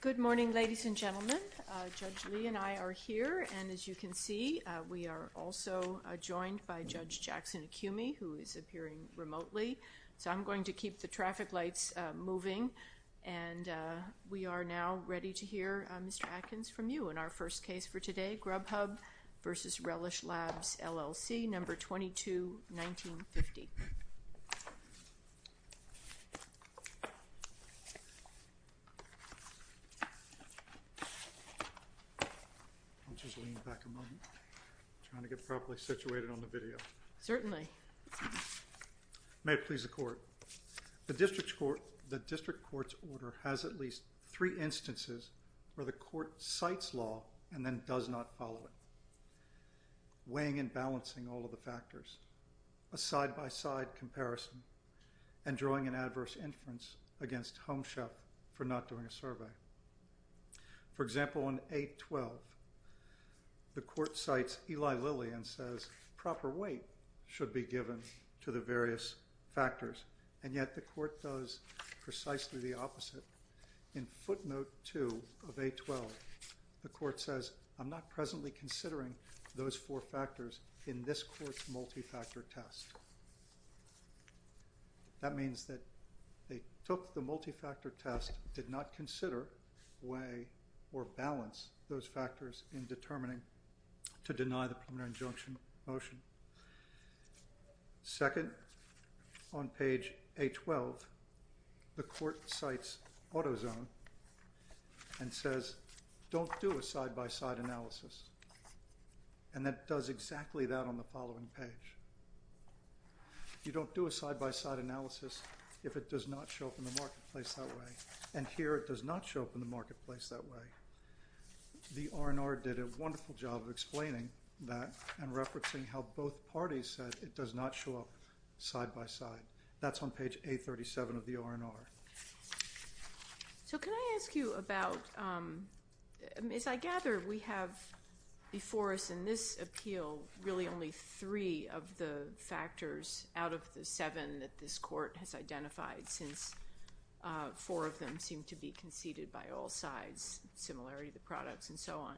Good morning, ladies and gentlemen. Judge Lee and I are here, and as you can see, we are also joined by Judge Jackson Acumi, who is appearing remotely. So I'm going to keep the traffic lights moving, and we are now ready to hear Mr. Atkins from you in our first case for today, Grubhub v. Relish Labs, LLC, No. 22-1950. May it please the Court. The District Court's order has at least three instances where the defendant does not follow it, weighing and balancing all of the factors, a side-by-side comparison, and drawing an adverse inference against Homeshelf for not doing a survey. For example, in A12, the Court cites Eli Lillian and says proper weight should be given to the various factors, and yet the Court does precisely the opposite. In footnote 2 of A12, the Court says, I'm not presently considering those four factors in this Court's multi-factor test. That means that they took the multi-factor test, did not consider, weigh, or balance those factors in determining to deny the preliminary injunction motion. Second, on page A12, the don't do a side-by-side analysis, and it does exactly that on the following page. You don't do a side-by-side analysis if it does not show up in the marketplace that way, and here it does not show up in the marketplace that way. The R&R did a wonderful job of explaining that and referencing how both parties said it does not show up side-by-side. That's on As I gather, we have before us in this appeal really only three of the factors out of the seven that this Court has identified, since four of them seem to be conceded by all sides, in similarity to the products and so on.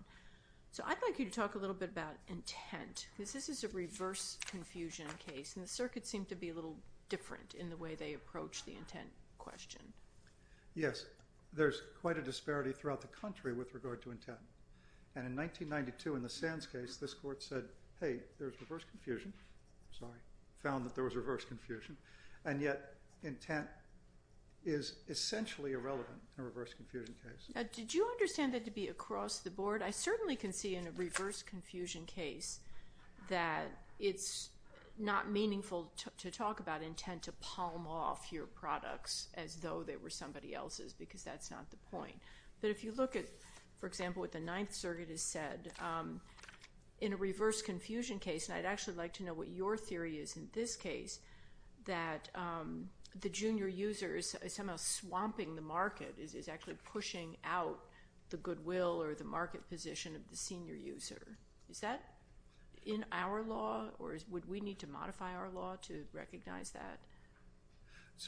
I'd like you to talk a little bit about intent, because this is a reverse confusion case, and the circuits seem to be a little different in the way they approach the intent question. Yes. There's quite a disparity throughout the country with regard to intent, and in 1992 in the Sands case, this Court said, hey, there's reverse confusion, found that there was reverse confusion, and yet intent is essentially irrelevant in a reverse confusion case. Did you understand that to be across the board? I certainly can see in a reverse confusion case that it's not meaningful to talk about intent to palm off your products as though they were somebody else's, because that's not the point. But if you look at, for example, what the Ninth Circuit has said, in a reverse confusion case, and I'd actually like to know what your theory is in this case, that the junior user is somehow swamping the market, is actually pushing out the goodwill or the market position of the senior user. Is that in our law, or would we need to modify our law to recognize that?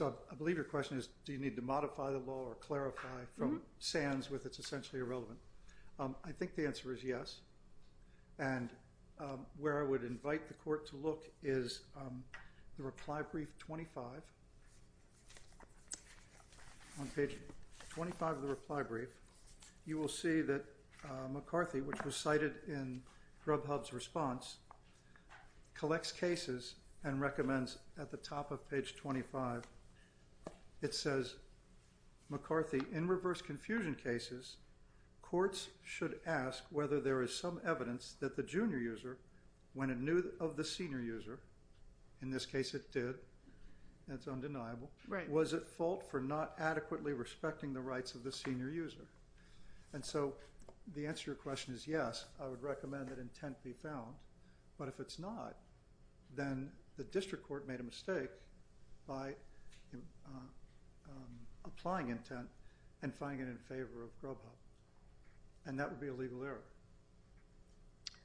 I believe your question is, do you need to modify from Sands with it's essentially irrelevant? I think the answer is yes, and where I would invite the Court to look is the reply brief 25. On page 25 of the reply brief, you will see that McCarthy, which was cited in Grubhub's response, collects cases and recommends at the top of page 25, it says, McCarthy, in reverse confusion cases, courts should ask whether there is some evidence that the junior user, when it knew of the senior user, in this case it did, that's undeniable, was at fault for not adequately respecting the rights of the senior user. And so the answer to your question is yes, I would recommend that intent be found, but if it's not, then the District Court made a mistake by applying intent and finding it in favor of Grubhub, and that would be a legal error.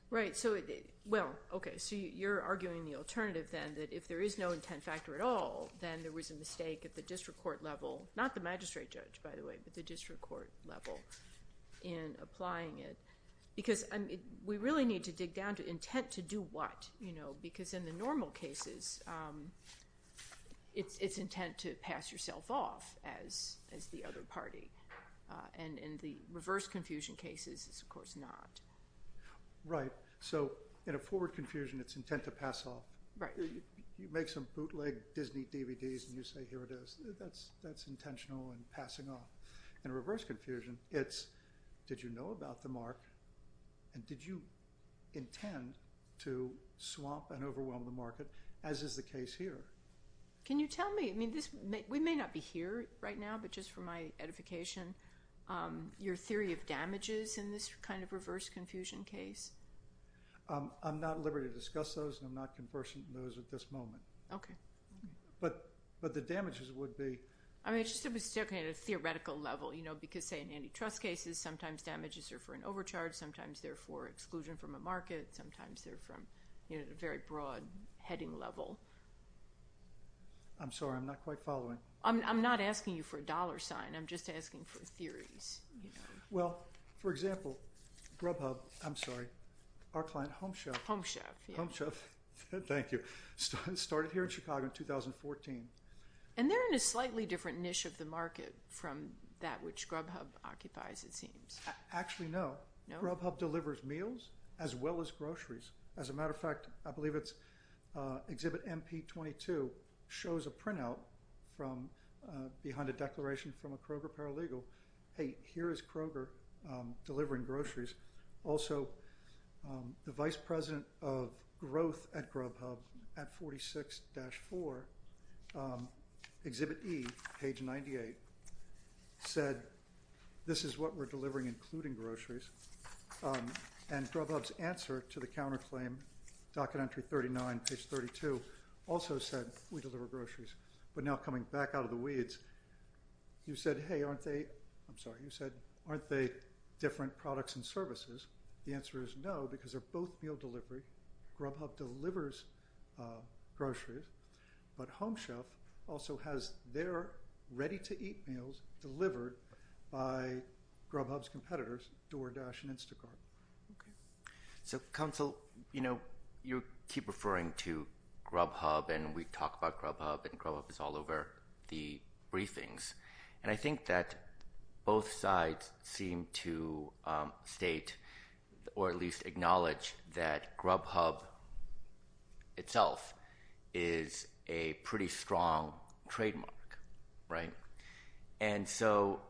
Right, so, well, okay, so you're arguing the alternative then, that if there is no intent factor at all, then there was a mistake at the District Court level, not the magistrate judge, by the way, but the District Court level in applying it, because we really need to dig down to intent to do what, you know, because in the normal cases, it's intent to pass yourself off as the other party, and in the reverse confusion cases, it's, of course, not. Right, so in a forward confusion, it's intent to pass off. Right. You make some bootleg Disney DVDs and you say, here it is, that's intentional in passing off. In a reverse confusion, it's, did you know about the mark, and did you intend to swamp and overwhelm the market, as is the case here? Can you tell me, I mean, this, we may not be here right now, but just for my edification, your theory of damages in this kind of reverse confusion case? I'm not liberated to discuss those, and I'm not conversing in those at this moment. Okay. But the damages would be. I mean, it's just that we're still kind of at a theoretical level, you know, because say in antitrust cases, sometimes damages are for an overcharge, sometimes they're for exclusion from a market, sometimes they're from, you know, a very broad heading level. I'm sorry, I'm not quite following. I'm not asking you for a dollar sign, I'm just asking for theories, you know. Well, for example, Grubhub, I'm sorry, our client, Home Chef. Home Chef. Home Chef. Thank you. Started here in Chicago in 2014. And they're in a slightly different niche of the market from that which Grubhub occupies, it seems. Actually, no. Grubhub delivers meals as well as groceries. As a matter of fact, I believe it's, exhibit MP22 shows a printout from, behind a declaration from a Kroger paralegal, hey, here is Kroger delivering groceries. Also, the vice president of growth at Grubhub, at 46-4, exhibit E, page 98, said, this is what we're delivering, including groceries, and Grubhub's answer to the counterclaim, docket entry 39, page 32, also said, we deliver groceries. But now coming back out of the weeds, you said, hey, aren't they, I'm sorry, the answer is no, because they're both meal delivery. Grubhub delivers groceries, but Home Chef also has their ready-to-eat meals delivered by Grubhub's competitors, DoorDash and Instacart. So, counsel, you know, you keep referring to Grubhub, and we talk about Grubhub, and Grubhub is all over the briefings. And I think that both sides seem to state, or at least acknowledge, that Grubhub itself is a pretty strong trademark, right? And so,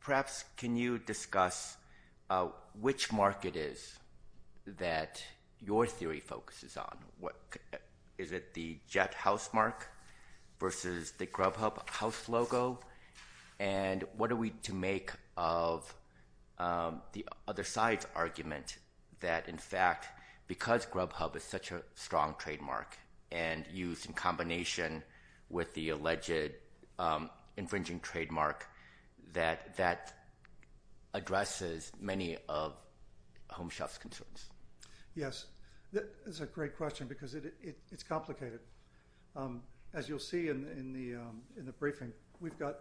perhaps, can you discuss which mark it is that your theory focuses on? What, is it the Jet House mark versus the Grubhub House logo? And what are we to make of the other side's argument that, in fact, because Grubhub is such a strong trademark, and used in combination with the alleged infringing trademark, that that addresses many of Home Chef's concerns? Yes, that is a great question, because it's complicated. As you'll see in the briefing, we've got,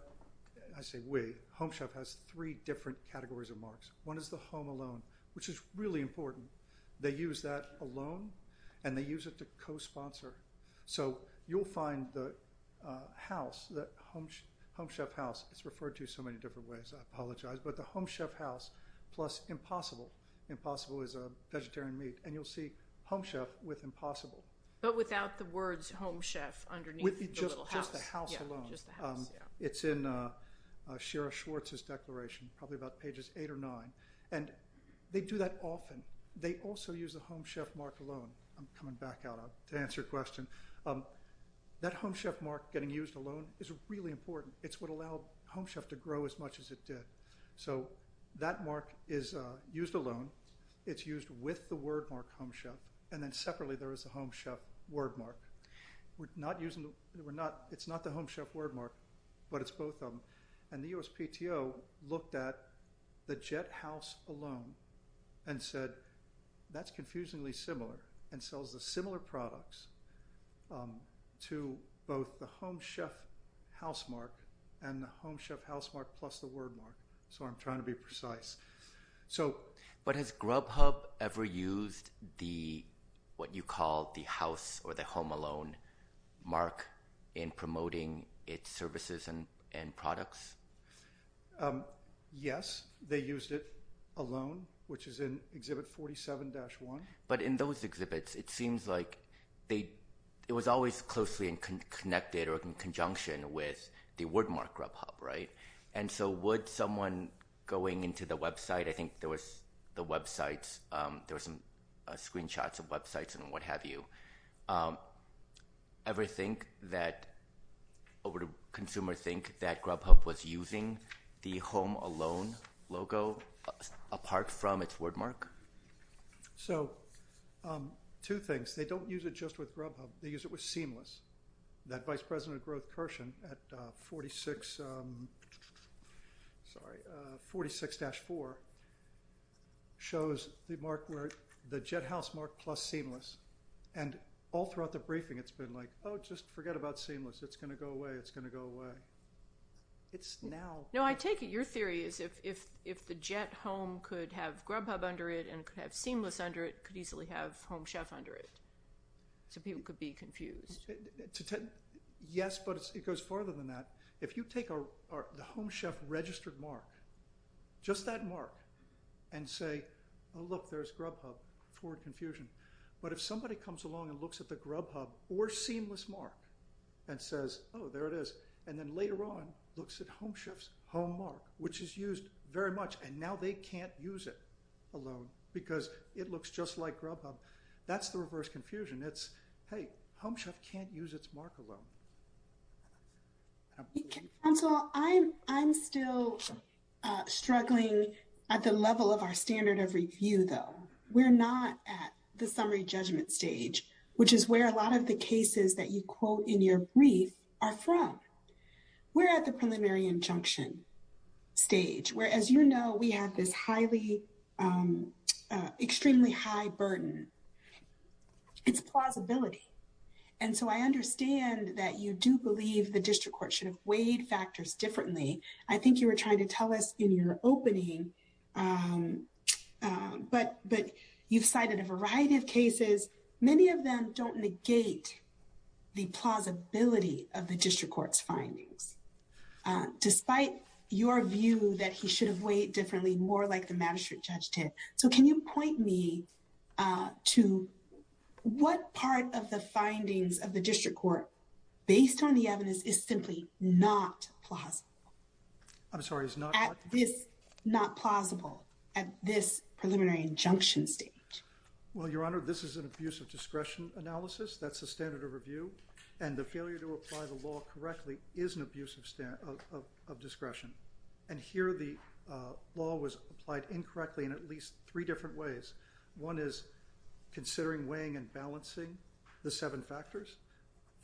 I say we, Home Chef has three different categories of marks. One is the Home Alone, which is really important. They use that alone, and they use it to co-sponsor. So, you'll find the house, the Home Chef house, it's referred to so many different ways, I apologize, but the Home Chef house plus Impossible. Impossible is a vegetarian meat, and you'll see Home Chef with Impossible. But without the words Home Chef underneath the little house. Just the house alone. Just the house, yeah. It's in Shira Schwartz's declaration, probably about pages eight or nine, and they do that often. They also use the Home Chef mark alone. I'm coming back out to answer your question. That Home Chef mark getting used alone is really important. It's what allowed Home Chef to grow as much as it did. So, that mark is used alone. It's used with the word mark Home Chef, and then separately there is a Home Chef word mark. We're not using, we're not, it's not the Home Chef word mark, but it's both of them. And the USPTO looked at the Jet House alone and said, that's confusingly similar, and sells the similar products to both the Home Chef house mark and the Home Chef house mark plus the word mark. So, I'm trying to be precise. So, but has Grubhub ever used the, what you call the house or the home alone mark in promoting its services and products? Yes, they used it alone, which is in Exhibit 47-1. But in those exhibits, it seems like they, it was always closely connected or in conjunction with the word mark Grubhub, right? And so, would someone going into the website, I think there was the websites, there were some screenshots of websites and what have you, ever think that, or would a consumer think that Grubhub was using the home alone logo apart from its word mark? So, two things, they don't use it just with Grubhub. They use it with Seamless. That Vice President of Growth, Kirshen, at 46, sorry, 46-4, shows the mark where, the Jet House mark plus Seamless. And all throughout the briefing, it's been like, oh, just forget about Seamless. It's going to go away. It's going to go away. It's now. No, I take it, your theory is if the Jet Home could have Grubhub under it and could have Seamless under it, could easily have Home Chef under it. So, people could be confused. Yes, but it goes farther than that. If you take the Home Chef registered mark, just that mark, and say, oh, look, there's Grubhub, forward confusion. But if somebody comes along and looks at the Grubhub or Seamless mark and says, oh, there it is, and then later on, looks at Home Chef's home mark, which is used very much, and now they can't use it alone because it looks just like Grubhub. That's the reverse confusion. It's, hey, Home Chef can't use its mark alone. Council, I'm still struggling at the level of our standard of review, though. We're not at the summary judgment stage, which is where a lot of the cases that you quote in your brief are from. We're at the preliminary injunction stage, where, as you know, we have this extremely high burden. It's plausibility. And so, I understand that you do believe the district court should have weighed factors differently. I think you were trying to tell us in your opening, but you've cited a variety of cases. Many of them don't negate the plausibility of the district court's findings. Despite your view that he should have weighed differently, more like the magistrate judge did. So, can you point me to what part of the findings of the district court, based on the evidence, is simply not plausible? I'm sorry, is not what? At this, not plausible, at this preliminary injunction stage? Well, Your Honor, this is an abuse of discretion analysis. That's the standard of review. And the failure to apply the law correctly is an abuse of discretion. And here, the law was applied incorrectly in at least three different ways. One is considering weighing and balancing the seven factors.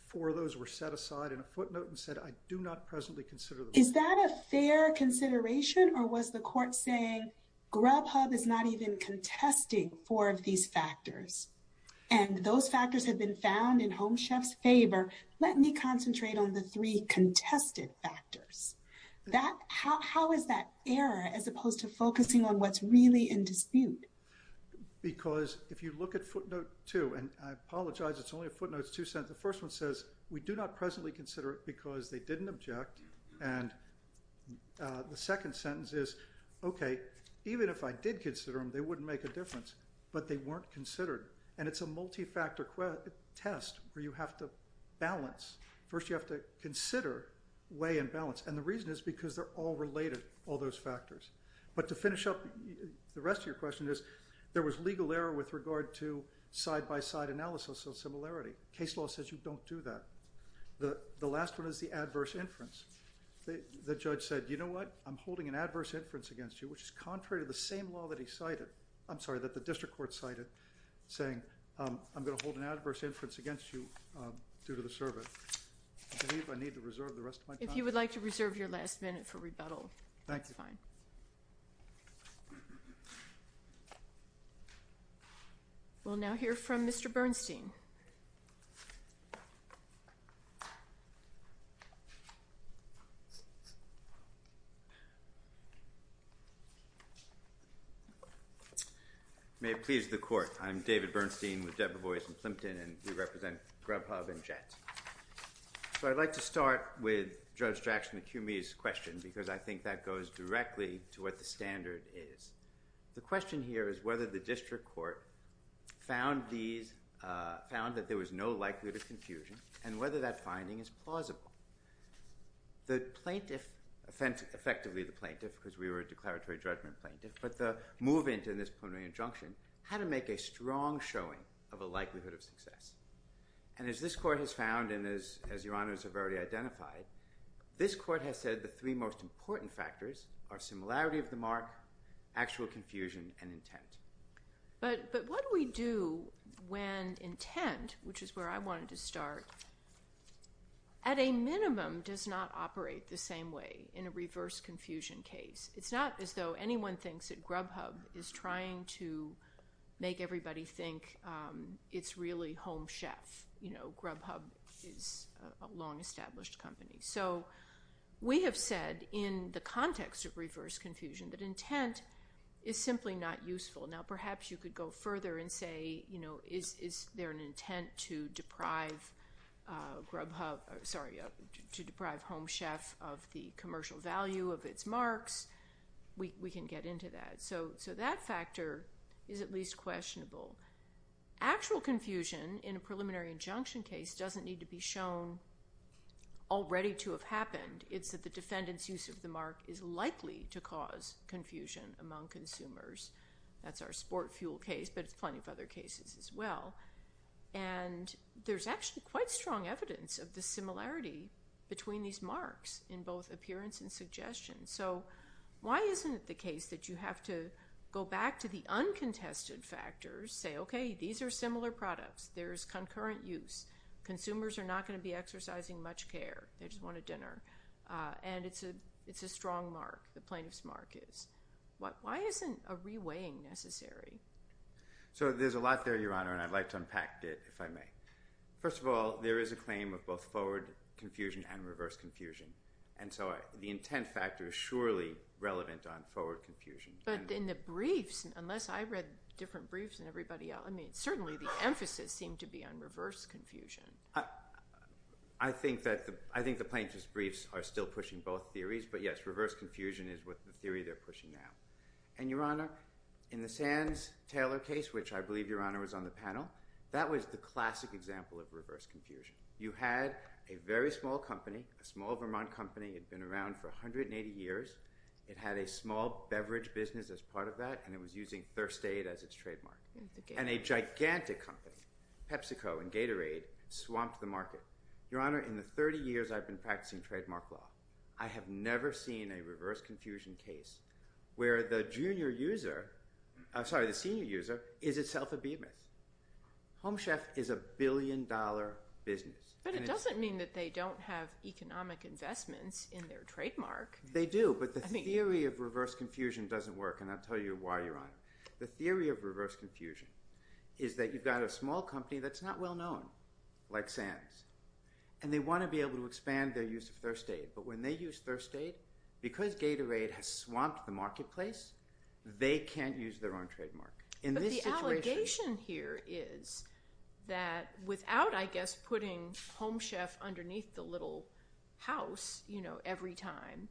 Four of those were set aside in a footnote and said, I do not presently consider them. Is that a fair consideration? Or was the court saying, Grubhub is not even contesting four of these factors. And those factors have been found in Home Chef's favor. Let me concentrate on the three contested factors. How is that error as opposed to focusing on what's really in dispute? Because if you look at footnote two, and I apologize, it's only a footnotes two sentence. The first one says, we do not presently consider it because they didn't object. And the second sentence is, okay, even if I did consider them they wouldn't make a difference, but they weren't considered. And it's a multi-factor test where you have to balance. First, you have to consider weigh and balance. And the reason is because they're all related, all those factors. But to finish up the rest of your question is, there was legal error with regard to side-by-side analysis of similarity. Case law says you don't do that. The last one is the adverse inference. The judge said, you know what? I'm holding an adverse inference against you, which is contrary to the same law that he cited. I'm sorry, that the district court cited, saying, I'm going to hold an adverse inference against you due to the service. I believe I need to reserve the rest of my time. If you would like to reserve your last minute for rebuttal. Thank you. That's fine. We'll now hear from Mr. Bernstein. Welcome. May it please the court. I'm David Bernstein with Deborah Boyce and Plimpton, and we represent Grubhub and Jet. So I'd like to start with Judge Jackson and Cumie's question because I think that goes directly to what the standard is. The question here is whether the district court found that there was no likelihood of confusion and whether that finding is plausible. The plaintiff, effectively the plaintiff, because we were a declaratory judgment plaintiff, but the move into this preliminary injunction had to make a strong showing of a likelihood of success. And as this court has found and as your honors have already identified, this court has said the three most important factors are similarity of the mark, actual confusion, and intent. But what do we do when intent, which is where I wanted to start, at a minimum does not operate the same way in a reverse confusion case. It's not as though anyone thinks that Grubhub is trying to make everybody think it's really Home Chef. You know, Grubhub is a long established company. So we have said in the context of reverse confusion that intent is simply not useful. Now perhaps you could go further and say, you know, is there an intent to deprive Grubhub, sorry, to deprive Home Chef of the commercial value of its marks? We can get into that. So that factor is at least questionable. Actual confusion in a preliminary injunction case doesn't need to be shown already to have happened. It's that the defendant's use of the mark is likely to cause confusion among consumers. That's our sport fuel case, but it's plenty of other cases as well. And there's actually quite strong evidence of the similarity between these marks in both appearance and suggestion. So why isn't it the case that you have to go back to the uncontested factors, say, okay, these are similar products. There's concurrent use. Consumers are not gonna be exercising much care. They just want a dinner. And it's a strong mark, the plaintiff's mark is. Why isn't a re-weighing necessary? So there's a lot there, Your Honor, and I'd like to unpack it, if I may. First of all, there is a claim of both forward confusion and reverse confusion. And so the intent factor is surely relevant on forward confusion. But in the briefs, unless I read different briefs than everybody else, I mean, certainly the emphasis seemed to be on reverse confusion. I think the plaintiff's briefs are still pushing both theories, but yes, reverse confusion is the theory they're pushing now. And Your Honor, in the Sands-Taylor case, which I believe, Your Honor, was on the panel, that was the classic example of reverse confusion. You had a very small company, a small Vermont company. It'd been around for 180 years. It had a small beverage business as part of that, and it was using Thirst Aid as its trademark. And a gigantic company, PepsiCo and Gatorade, swamped the market. Your Honor, in the 30 years I've been practicing trademark law, I have never seen a reverse confusion case where the junior user, sorry, the senior user, is itself a beat myth. Home Chef is a billion dollar business. But it doesn't mean that they don't have economic investments in their trademark. They do, but the theory of reverse confusion doesn't work, and I'll tell you why, Your Honor. The theory of reverse confusion is that you've got a small company that's not well known, like Sands, and they wanna be able to expand their use of Thirst Aid. But when they use Thirst Aid, because Gatorade has swamped the marketplace, they can't use their own trademark. In this situation- But the allegation here is that, without, I guess, putting Home Chef underneath the little house every time,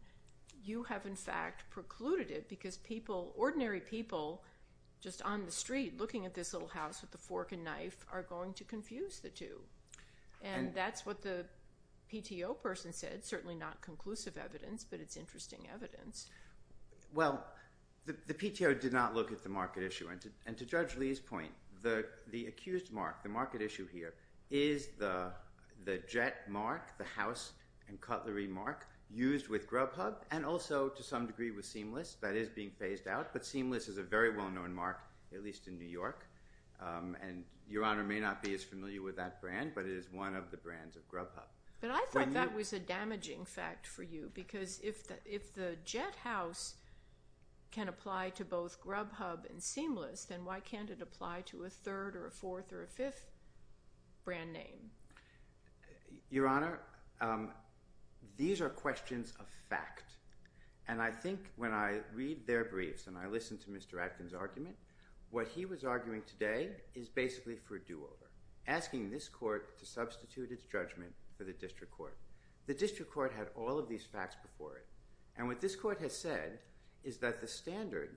you have, in fact, precluded it, because people, ordinary people, just on the street, looking at this little house with a fork and knife, are going to confuse the two. And that's what the PTO person said, certainly not conclusive evidence, but it's interesting evidence. Well, the PTO did not look at the market issue. And to Judge Lee's point, the accused mark, the market issue here, is the jet mark, the house and cutlery mark, used with Grubhub, and also, to some degree, with Seamless. That is being phased out, but Seamless is a very well-known mark, at least in New York. And Your Honor may not be as familiar with that brand, but it is one of the brands of Grubhub. But I thought that was a damaging fact for you, because if the jet house can apply to both Grubhub and Seamless, then why can't it apply to a third, or a fourth, or a fifth brand name? Your Honor, these are questions of fact. And I think, when I read their briefs, and I listened to Mr. Atkin's argument, what he was arguing today is basically for a do-over, asking this court to substitute its judgment for the district court. The district court had all of these facts before it. And what this court has said is that the standard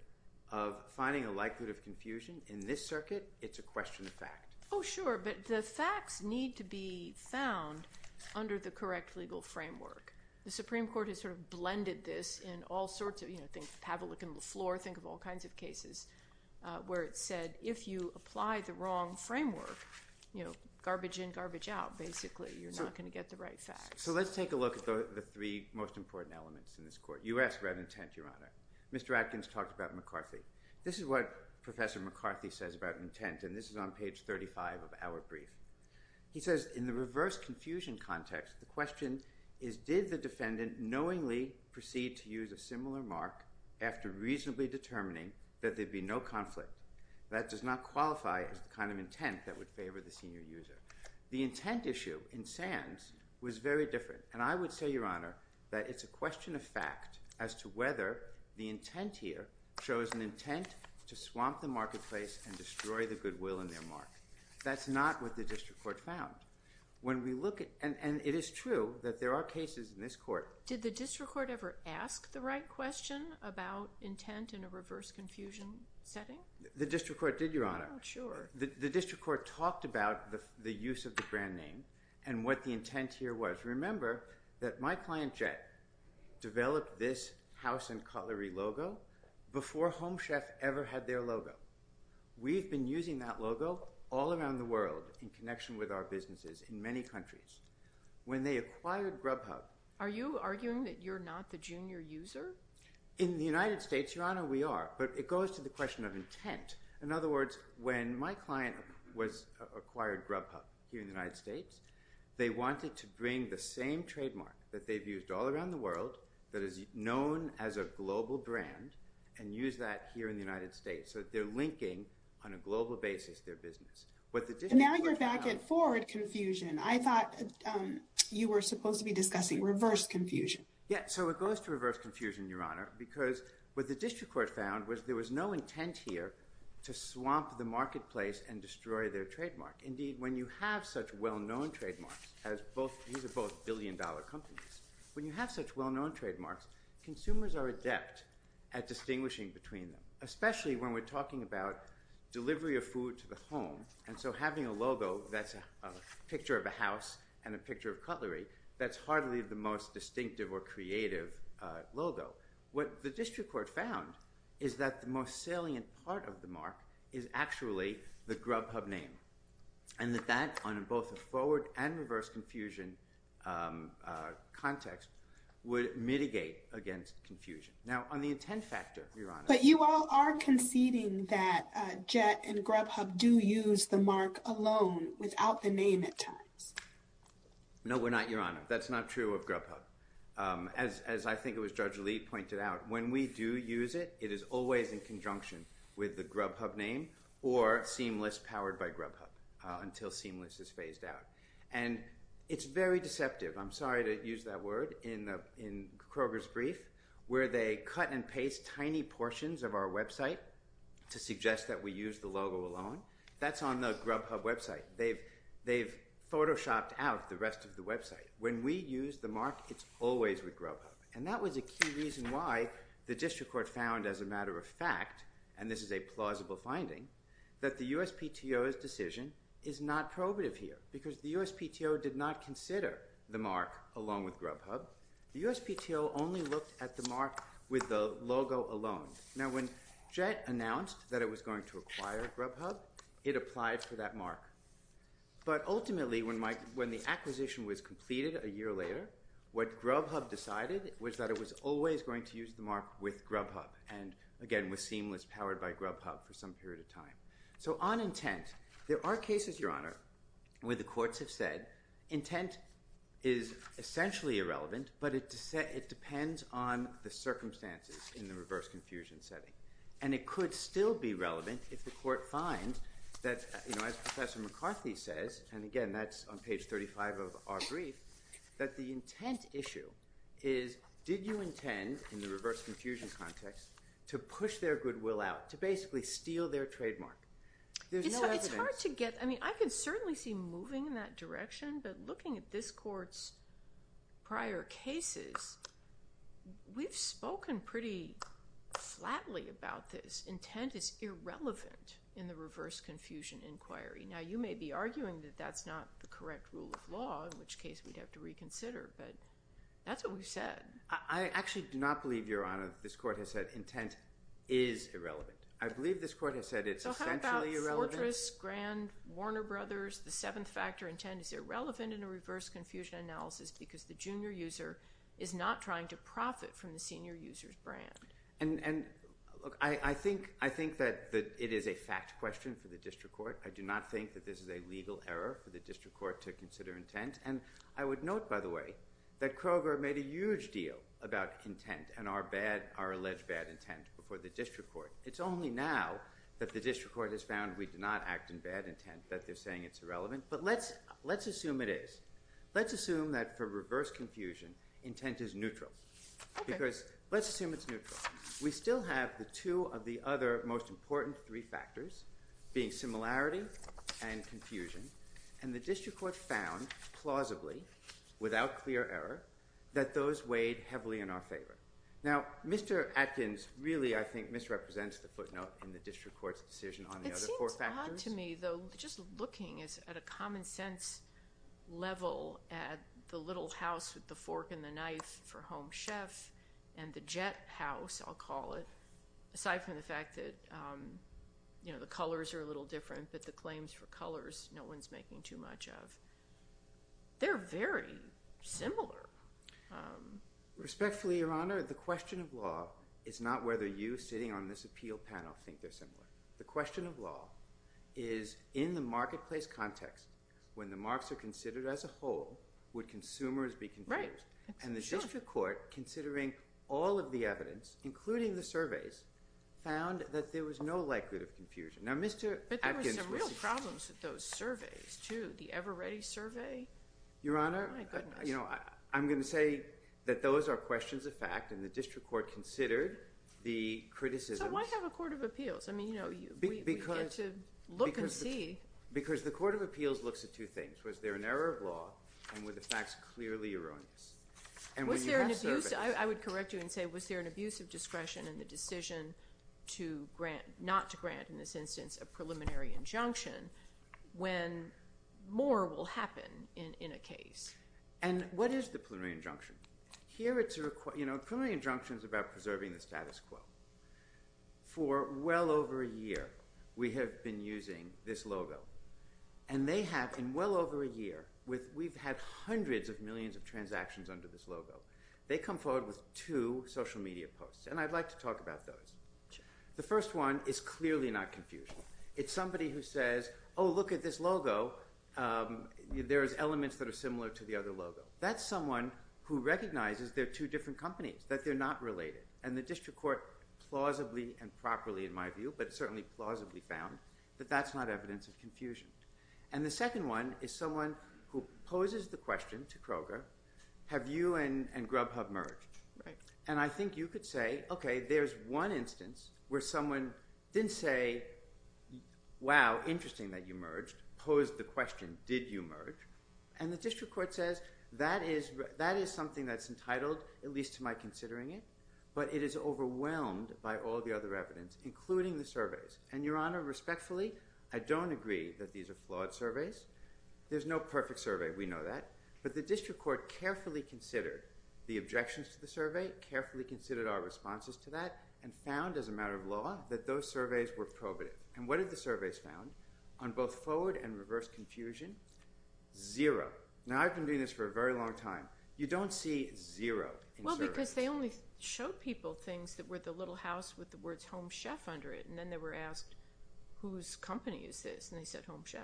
of finding a likelihood of confusion in this circuit, it's a question of fact. Oh, sure, but the facts need to be found under the correct legal framework. The Supreme Court has sort of blended this in all sorts of, you know, have a look in the floor, think of all kinds of cases, where it said, if you apply the wrong framework, you know, garbage in, garbage out, basically you're not gonna get the right facts. So let's take a look at the three most important elements in this court. You asked about intent, Your Honor. Mr. Atkins talked about McCarthy. This is what Professor McCarthy says about intent, and this is on page 35 of our brief. He says, in the reverse confusion context, the question is, did the defendant knowingly proceed to use a similar mark after reasonably determining that there'd be no conflict? That does not qualify as the kind of intent that would favor the senior user. The intent issue in Sands was very different, and I would say, Your Honor, that it's a question of fact as to whether the intent here shows an intent to swamp the marketplace and destroy the goodwill in their mark. That's not what the district court found. When we look at, and it is true that there are cases in this court. Did the district court ever ask the right question about intent in a reverse confusion setting? The district court did, Your Honor. Oh, sure. The district court talked about the use of the brand name and what the intent here was. Remember that my client, Jett, developed this house and cutlery logo before Home Chef ever had their logo. We've been using that logo all around the world in connection with our businesses in many countries. When they acquired Grubhub. Are you arguing that you're not the junior user? In the United States, Your Honor, we are. But it goes to the question of intent. In other words, when my client acquired Grubhub here in the United States, they wanted to bring the same trademark that they've used all around the world that is known as a global brand and use that here in the United States. So they're linking, on a global basis, their business. Now you're back at forward confusion. I thought you were supposed to be discussing reverse confusion. Yeah, so it goes to reverse confusion, Your Honor, because what the district court found was there was no intent here to swamp the marketplace and destroy their trademark. Indeed, when you have such well-known trademarks, as these are both billion dollar companies, when you have such well-known trademarks, consumers are adept at distinguishing between them, especially when we're talking about delivery of food to the home. And so having a logo that's a picture of a house and a picture of cutlery, that's hardly the most distinctive or creative logo. What the district court found is that the most salient part of the mark is actually the Grubhub name. And that that, on both a forward and reverse confusion context, would mitigate against confusion. Now, on the intent factor, Your Honor. But you all are conceding that Jett and Grubhub do use the mark alone without the name at times. No, we're not, Your Honor. That's not true of Grubhub. As I think it was Judge Lee pointed out, when we do use it, it is always in conjunction with the Grubhub name or Seamless powered by Grubhub until Seamless is phased out. And it's very deceptive. I'm sorry to use that word in Kroger's brief, where they cut and paste tiny portions of our website to suggest that we use the logo alone. That's on the Grubhub website. They've photoshopped out the rest of the website. When we use the mark, it's always with Grubhub. And that was a key reason why the district court found, as a matter of fact, and this is a plausible finding, that the USPTO's decision is not probative here. Because the USPTO did not consider the mark along with Grubhub. The USPTO only looked at the mark with the logo alone. Now when JET announced that it was going to acquire Grubhub, it applied for that mark. But ultimately, when the acquisition was completed a year later, what Grubhub decided was that it was always going to use the mark with Grubhub. And again, with Seamless powered by Grubhub for some period of time. So on intent, there are cases, Your Honor, where the courts have said intent is essentially irrelevant, but it depends on the circumstances in the reverse confusion setting. And it could still be relevant if the court finds that, as Professor McCarthy says, and again, that's on page 35 of our brief, that the intent issue is, did you intend, in the reverse confusion context, to push their goodwill out, to basically steal their trademark? There's no evidence. It's hard to get, I mean, I can certainly see moving in that direction. But looking at this court's prior cases, we've spoken pretty flatly about this. Intent is irrelevant in the reverse confusion inquiry. Now, you may be arguing that that's not the correct rule of law, in which case we'd have to reconsider, but that's what we've said. I actually do not believe, Your Honor, this court has said intent is irrelevant. I believe this court has said it's essentially irrelevant. So how about Fortress, Grand, Warner Brothers, the seventh factor intent is irrelevant in a reverse confusion analysis because the junior user is not trying to profit from the senior user's brand. And look, I think that it is a fact question for the district court. I do not think that this is a legal error for the district court to consider intent. And I would note, by the way, that Kroger made a huge deal about intent and our alleged bad intent before the district court. It's only now that the district court has found we did not act in bad intent, that they're saying it's irrelevant. But let's assume it is. Let's assume that for reverse confusion, intent is neutral. Because let's assume it's neutral. We still have the two of the other most important three factors, being similarity and confusion. And the district court found, plausibly, without clear error, that those weighed heavily in our favor. Now, Mr. Atkins really, I think, misrepresents the footnote in the district court's decision on the other four factors. And to me, though, just looking at a common sense level at the little house with the fork and the knife for Home Chef, and the jet house, I'll call it, aside from the fact that the colors are a little different, but the claims for colors, no one's making too much of. They're very similar. Respectfully, Your Honor, the question of law is not whether you, sitting on this appeal panel, think they're similar. The question of law is, in the marketplace context, when the marks are considered as a whole, would consumers be confused? And the district court, considering all of the evidence, including the surveys, found that there was no likelihood of confusion. Now, Mr. Atkins was. But there were some real problems with those surveys, too. The Ever Ready survey? Your Honor, I'm gonna say that those are questions of fact, and the district court considered the criticisms. So why have a court of appeals? We get to look and see. Because the court of appeals looks at two things. Was there an error of law, and were the facts clearly erroneous? And when you have surveys. I would correct you and say, was there an abuse of discretion in the decision not to grant, in this instance, a preliminary injunction, when more will happen in a case? And what is the preliminary injunction? Here, it's a, you know, a preliminary injunction's about preserving the status quo. For well over a year, we have been using this logo. And they have, in well over a year, we've had hundreds of millions of transactions under this logo. They come forward with two social media posts. And I'd like to talk about those. The first one is clearly not confusion. It's somebody who says, oh, look at this logo. There's elements that are similar to the other logo. That's someone who recognizes they're two different companies, that they're not related. And the district court plausibly and properly, in my view, but certainly plausibly found that that's not evidence of confusion. And the second one is someone who poses the question to Kroger, have you and Grubhub merged? And I think you could say, okay, there's one instance where someone didn't say, wow, interesting that you merged, posed the question, did you merge? And the district court says, that is something that's entitled, at least to my considering it, but it is overwhelmed by all the other evidence, including the surveys. And your honor, respectfully, I don't agree that these are flawed surveys. There's no perfect survey, we know that. But the district court carefully considered the objections to the survey, carefully considered our responses to that, and found, as a matter of law, that those surveys were probative. And what did the surveys found? On both forward and reverse confusion, zero. Now, I've been doing this for a very long time. You don't see zero in surveys. Because they only showed people things that were the little house with the words Home Chef under it, and then they were asked, whose company is this? And they said Home Chef.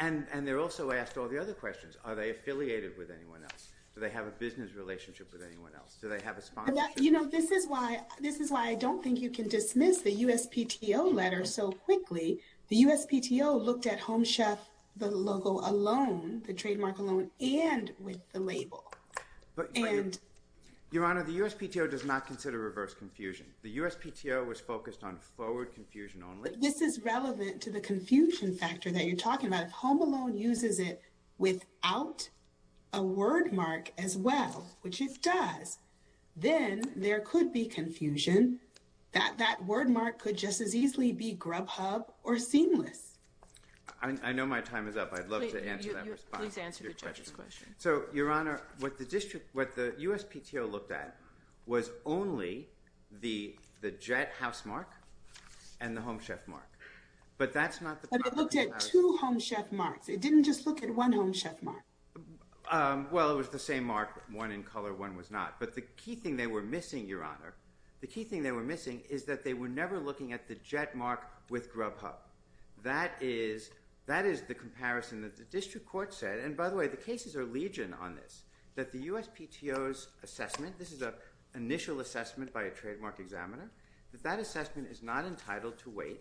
And they're also asked all the other questions. Are they affiliated with anyone else? Do they have a business relationship with anyone else? Do they have a sponsorship? You know, this is why I don't think you can dismiss the USPTO letter so quickly. The USPTO looked at Home Chef, the logo alone, the trademark alone, and with the label. Your Honor, the USPTO does not consider reverse confusion. The USPTO was focused on forward confusion only. This is relevant to the confusion factor that you're talking about. If Home Alone uses it without a word mark as well, which it does, then there could be confusion. That word mark could just as easily be grubhub or seamless. I know my time is up. I'd love to answer that response. Please answer the judge's question. So, Your Honor, what the USPTO looked at was only the Jett housemark and the Home Chef mark. But that's not- But it looked at two Home Chef marks. It didn't just look at one Home Chef mark. Well, it was the same mark, one in color, one was not. But the key thing they were missing, Your Honor, the key thing they were missing is that they were never looking at the Jett mark with grubhub. That is the comparison that the district court said. And by the way, the cases are legion on this, that the USPTO's assessment, this is an initial assessment by a trademark examiner, that that assessment is not entitled to wait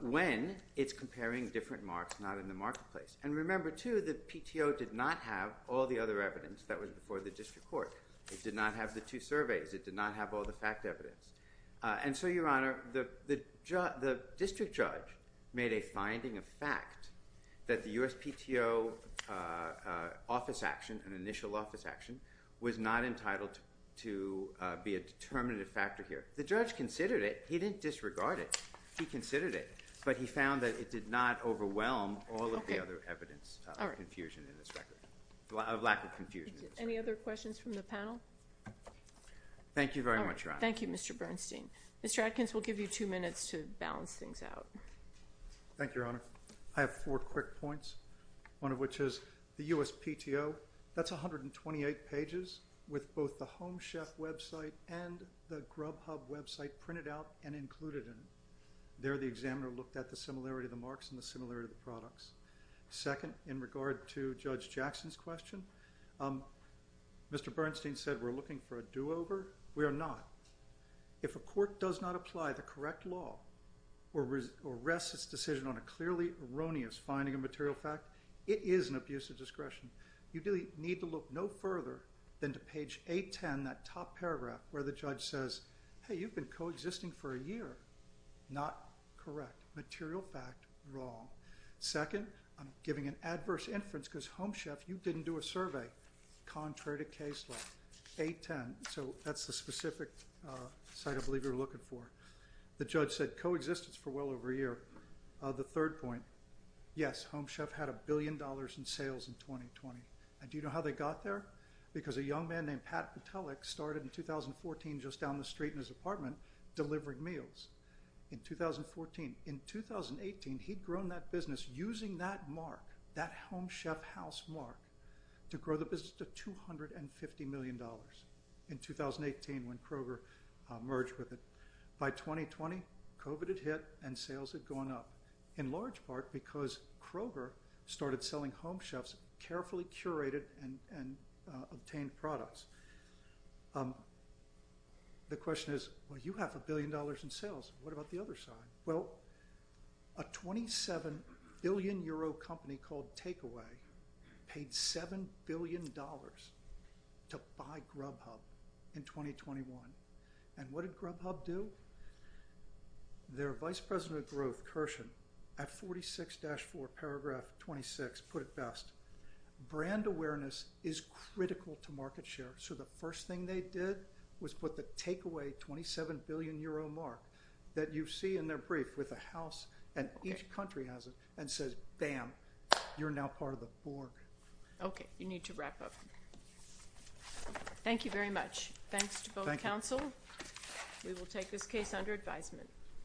when it's comparing different marks, not in the marketplace. And remember, too, the PTO did not have all the other evidence that was before the district court. It did not have the two surveys. It did not have all the fact evidence. And so, Your Honor, the district judge made a finding of fact that the USPTO office action, an initial office action, was not entitled to be a determinative factor here. The judge considered it. He didn't disregard it. He considered it. But he found that it did not overwhelm all of the other evidence of confusion in this record, of lack of confusion. Any other questions from the panel? Thank you very much, Your Honor. All right, thank you, Mr. Bernstein. Mr. Atkins, we'll give you two minutes to balance things out. Thank you, Your Honor. I have four quick points, one of which is the USPTO, that's 128 pages with both the Home Chef website and the Grubhub website printed out and included in it. There, the examiner looked at the similarity of the marks and the similarity of the products. Second, in regard to Judge Jackson's question, Mr. Bernstein said we're looking for a do-over. We are not. If a court does not apply the correct law or rests its decision on a clearly erroneous finding of material fact, it is an abuse of discretion. You really need to look no further than to page 810, that top paragraph where the judge says, hey, you've been coexisting for a year. Not correct. Material fact, wrong. Second, I'm giving an adverse inference because Home Chef, you didn't do a survey contrary to case law, 810. So that's the specific site I believe you're looking for. The judge said coexistence for well over a year. The third point, yes, Home Chef had a billion dollars in sales in 2020. And do you know how they got there? Because a young man named Pat Petelic started in 2014 just down the street in his apartment delivering meals. In 2014. In 2018, he'd grown that business using that mark, that Home Chef house mark, to grow the business to $250 million in 2018 when Kroger merged with it. By 2020, COVID had hit and sales had gone up. In large part because Kroger started selling Home Chef's carefully curated and obtained products. The question is, well, you have a billion dollars in sales. What about the other side? Well, a 27 billion euro company called Takeaway paid $7 billion to buy Grubhub in 2021. And what did Grubhub do? Their vice president of growth, Kirshen, at 46-4 paragraph 26 put it best, brand awareness is critical to market share. So the first thing they did was put the Takeaway 27 billion euro mark that you see in their brief with the house and each country has it and says, bam, you're now part of the board. Okay, you need to wrap up. Thank you very much. Thanks to both counsel. We will take this case under advisement.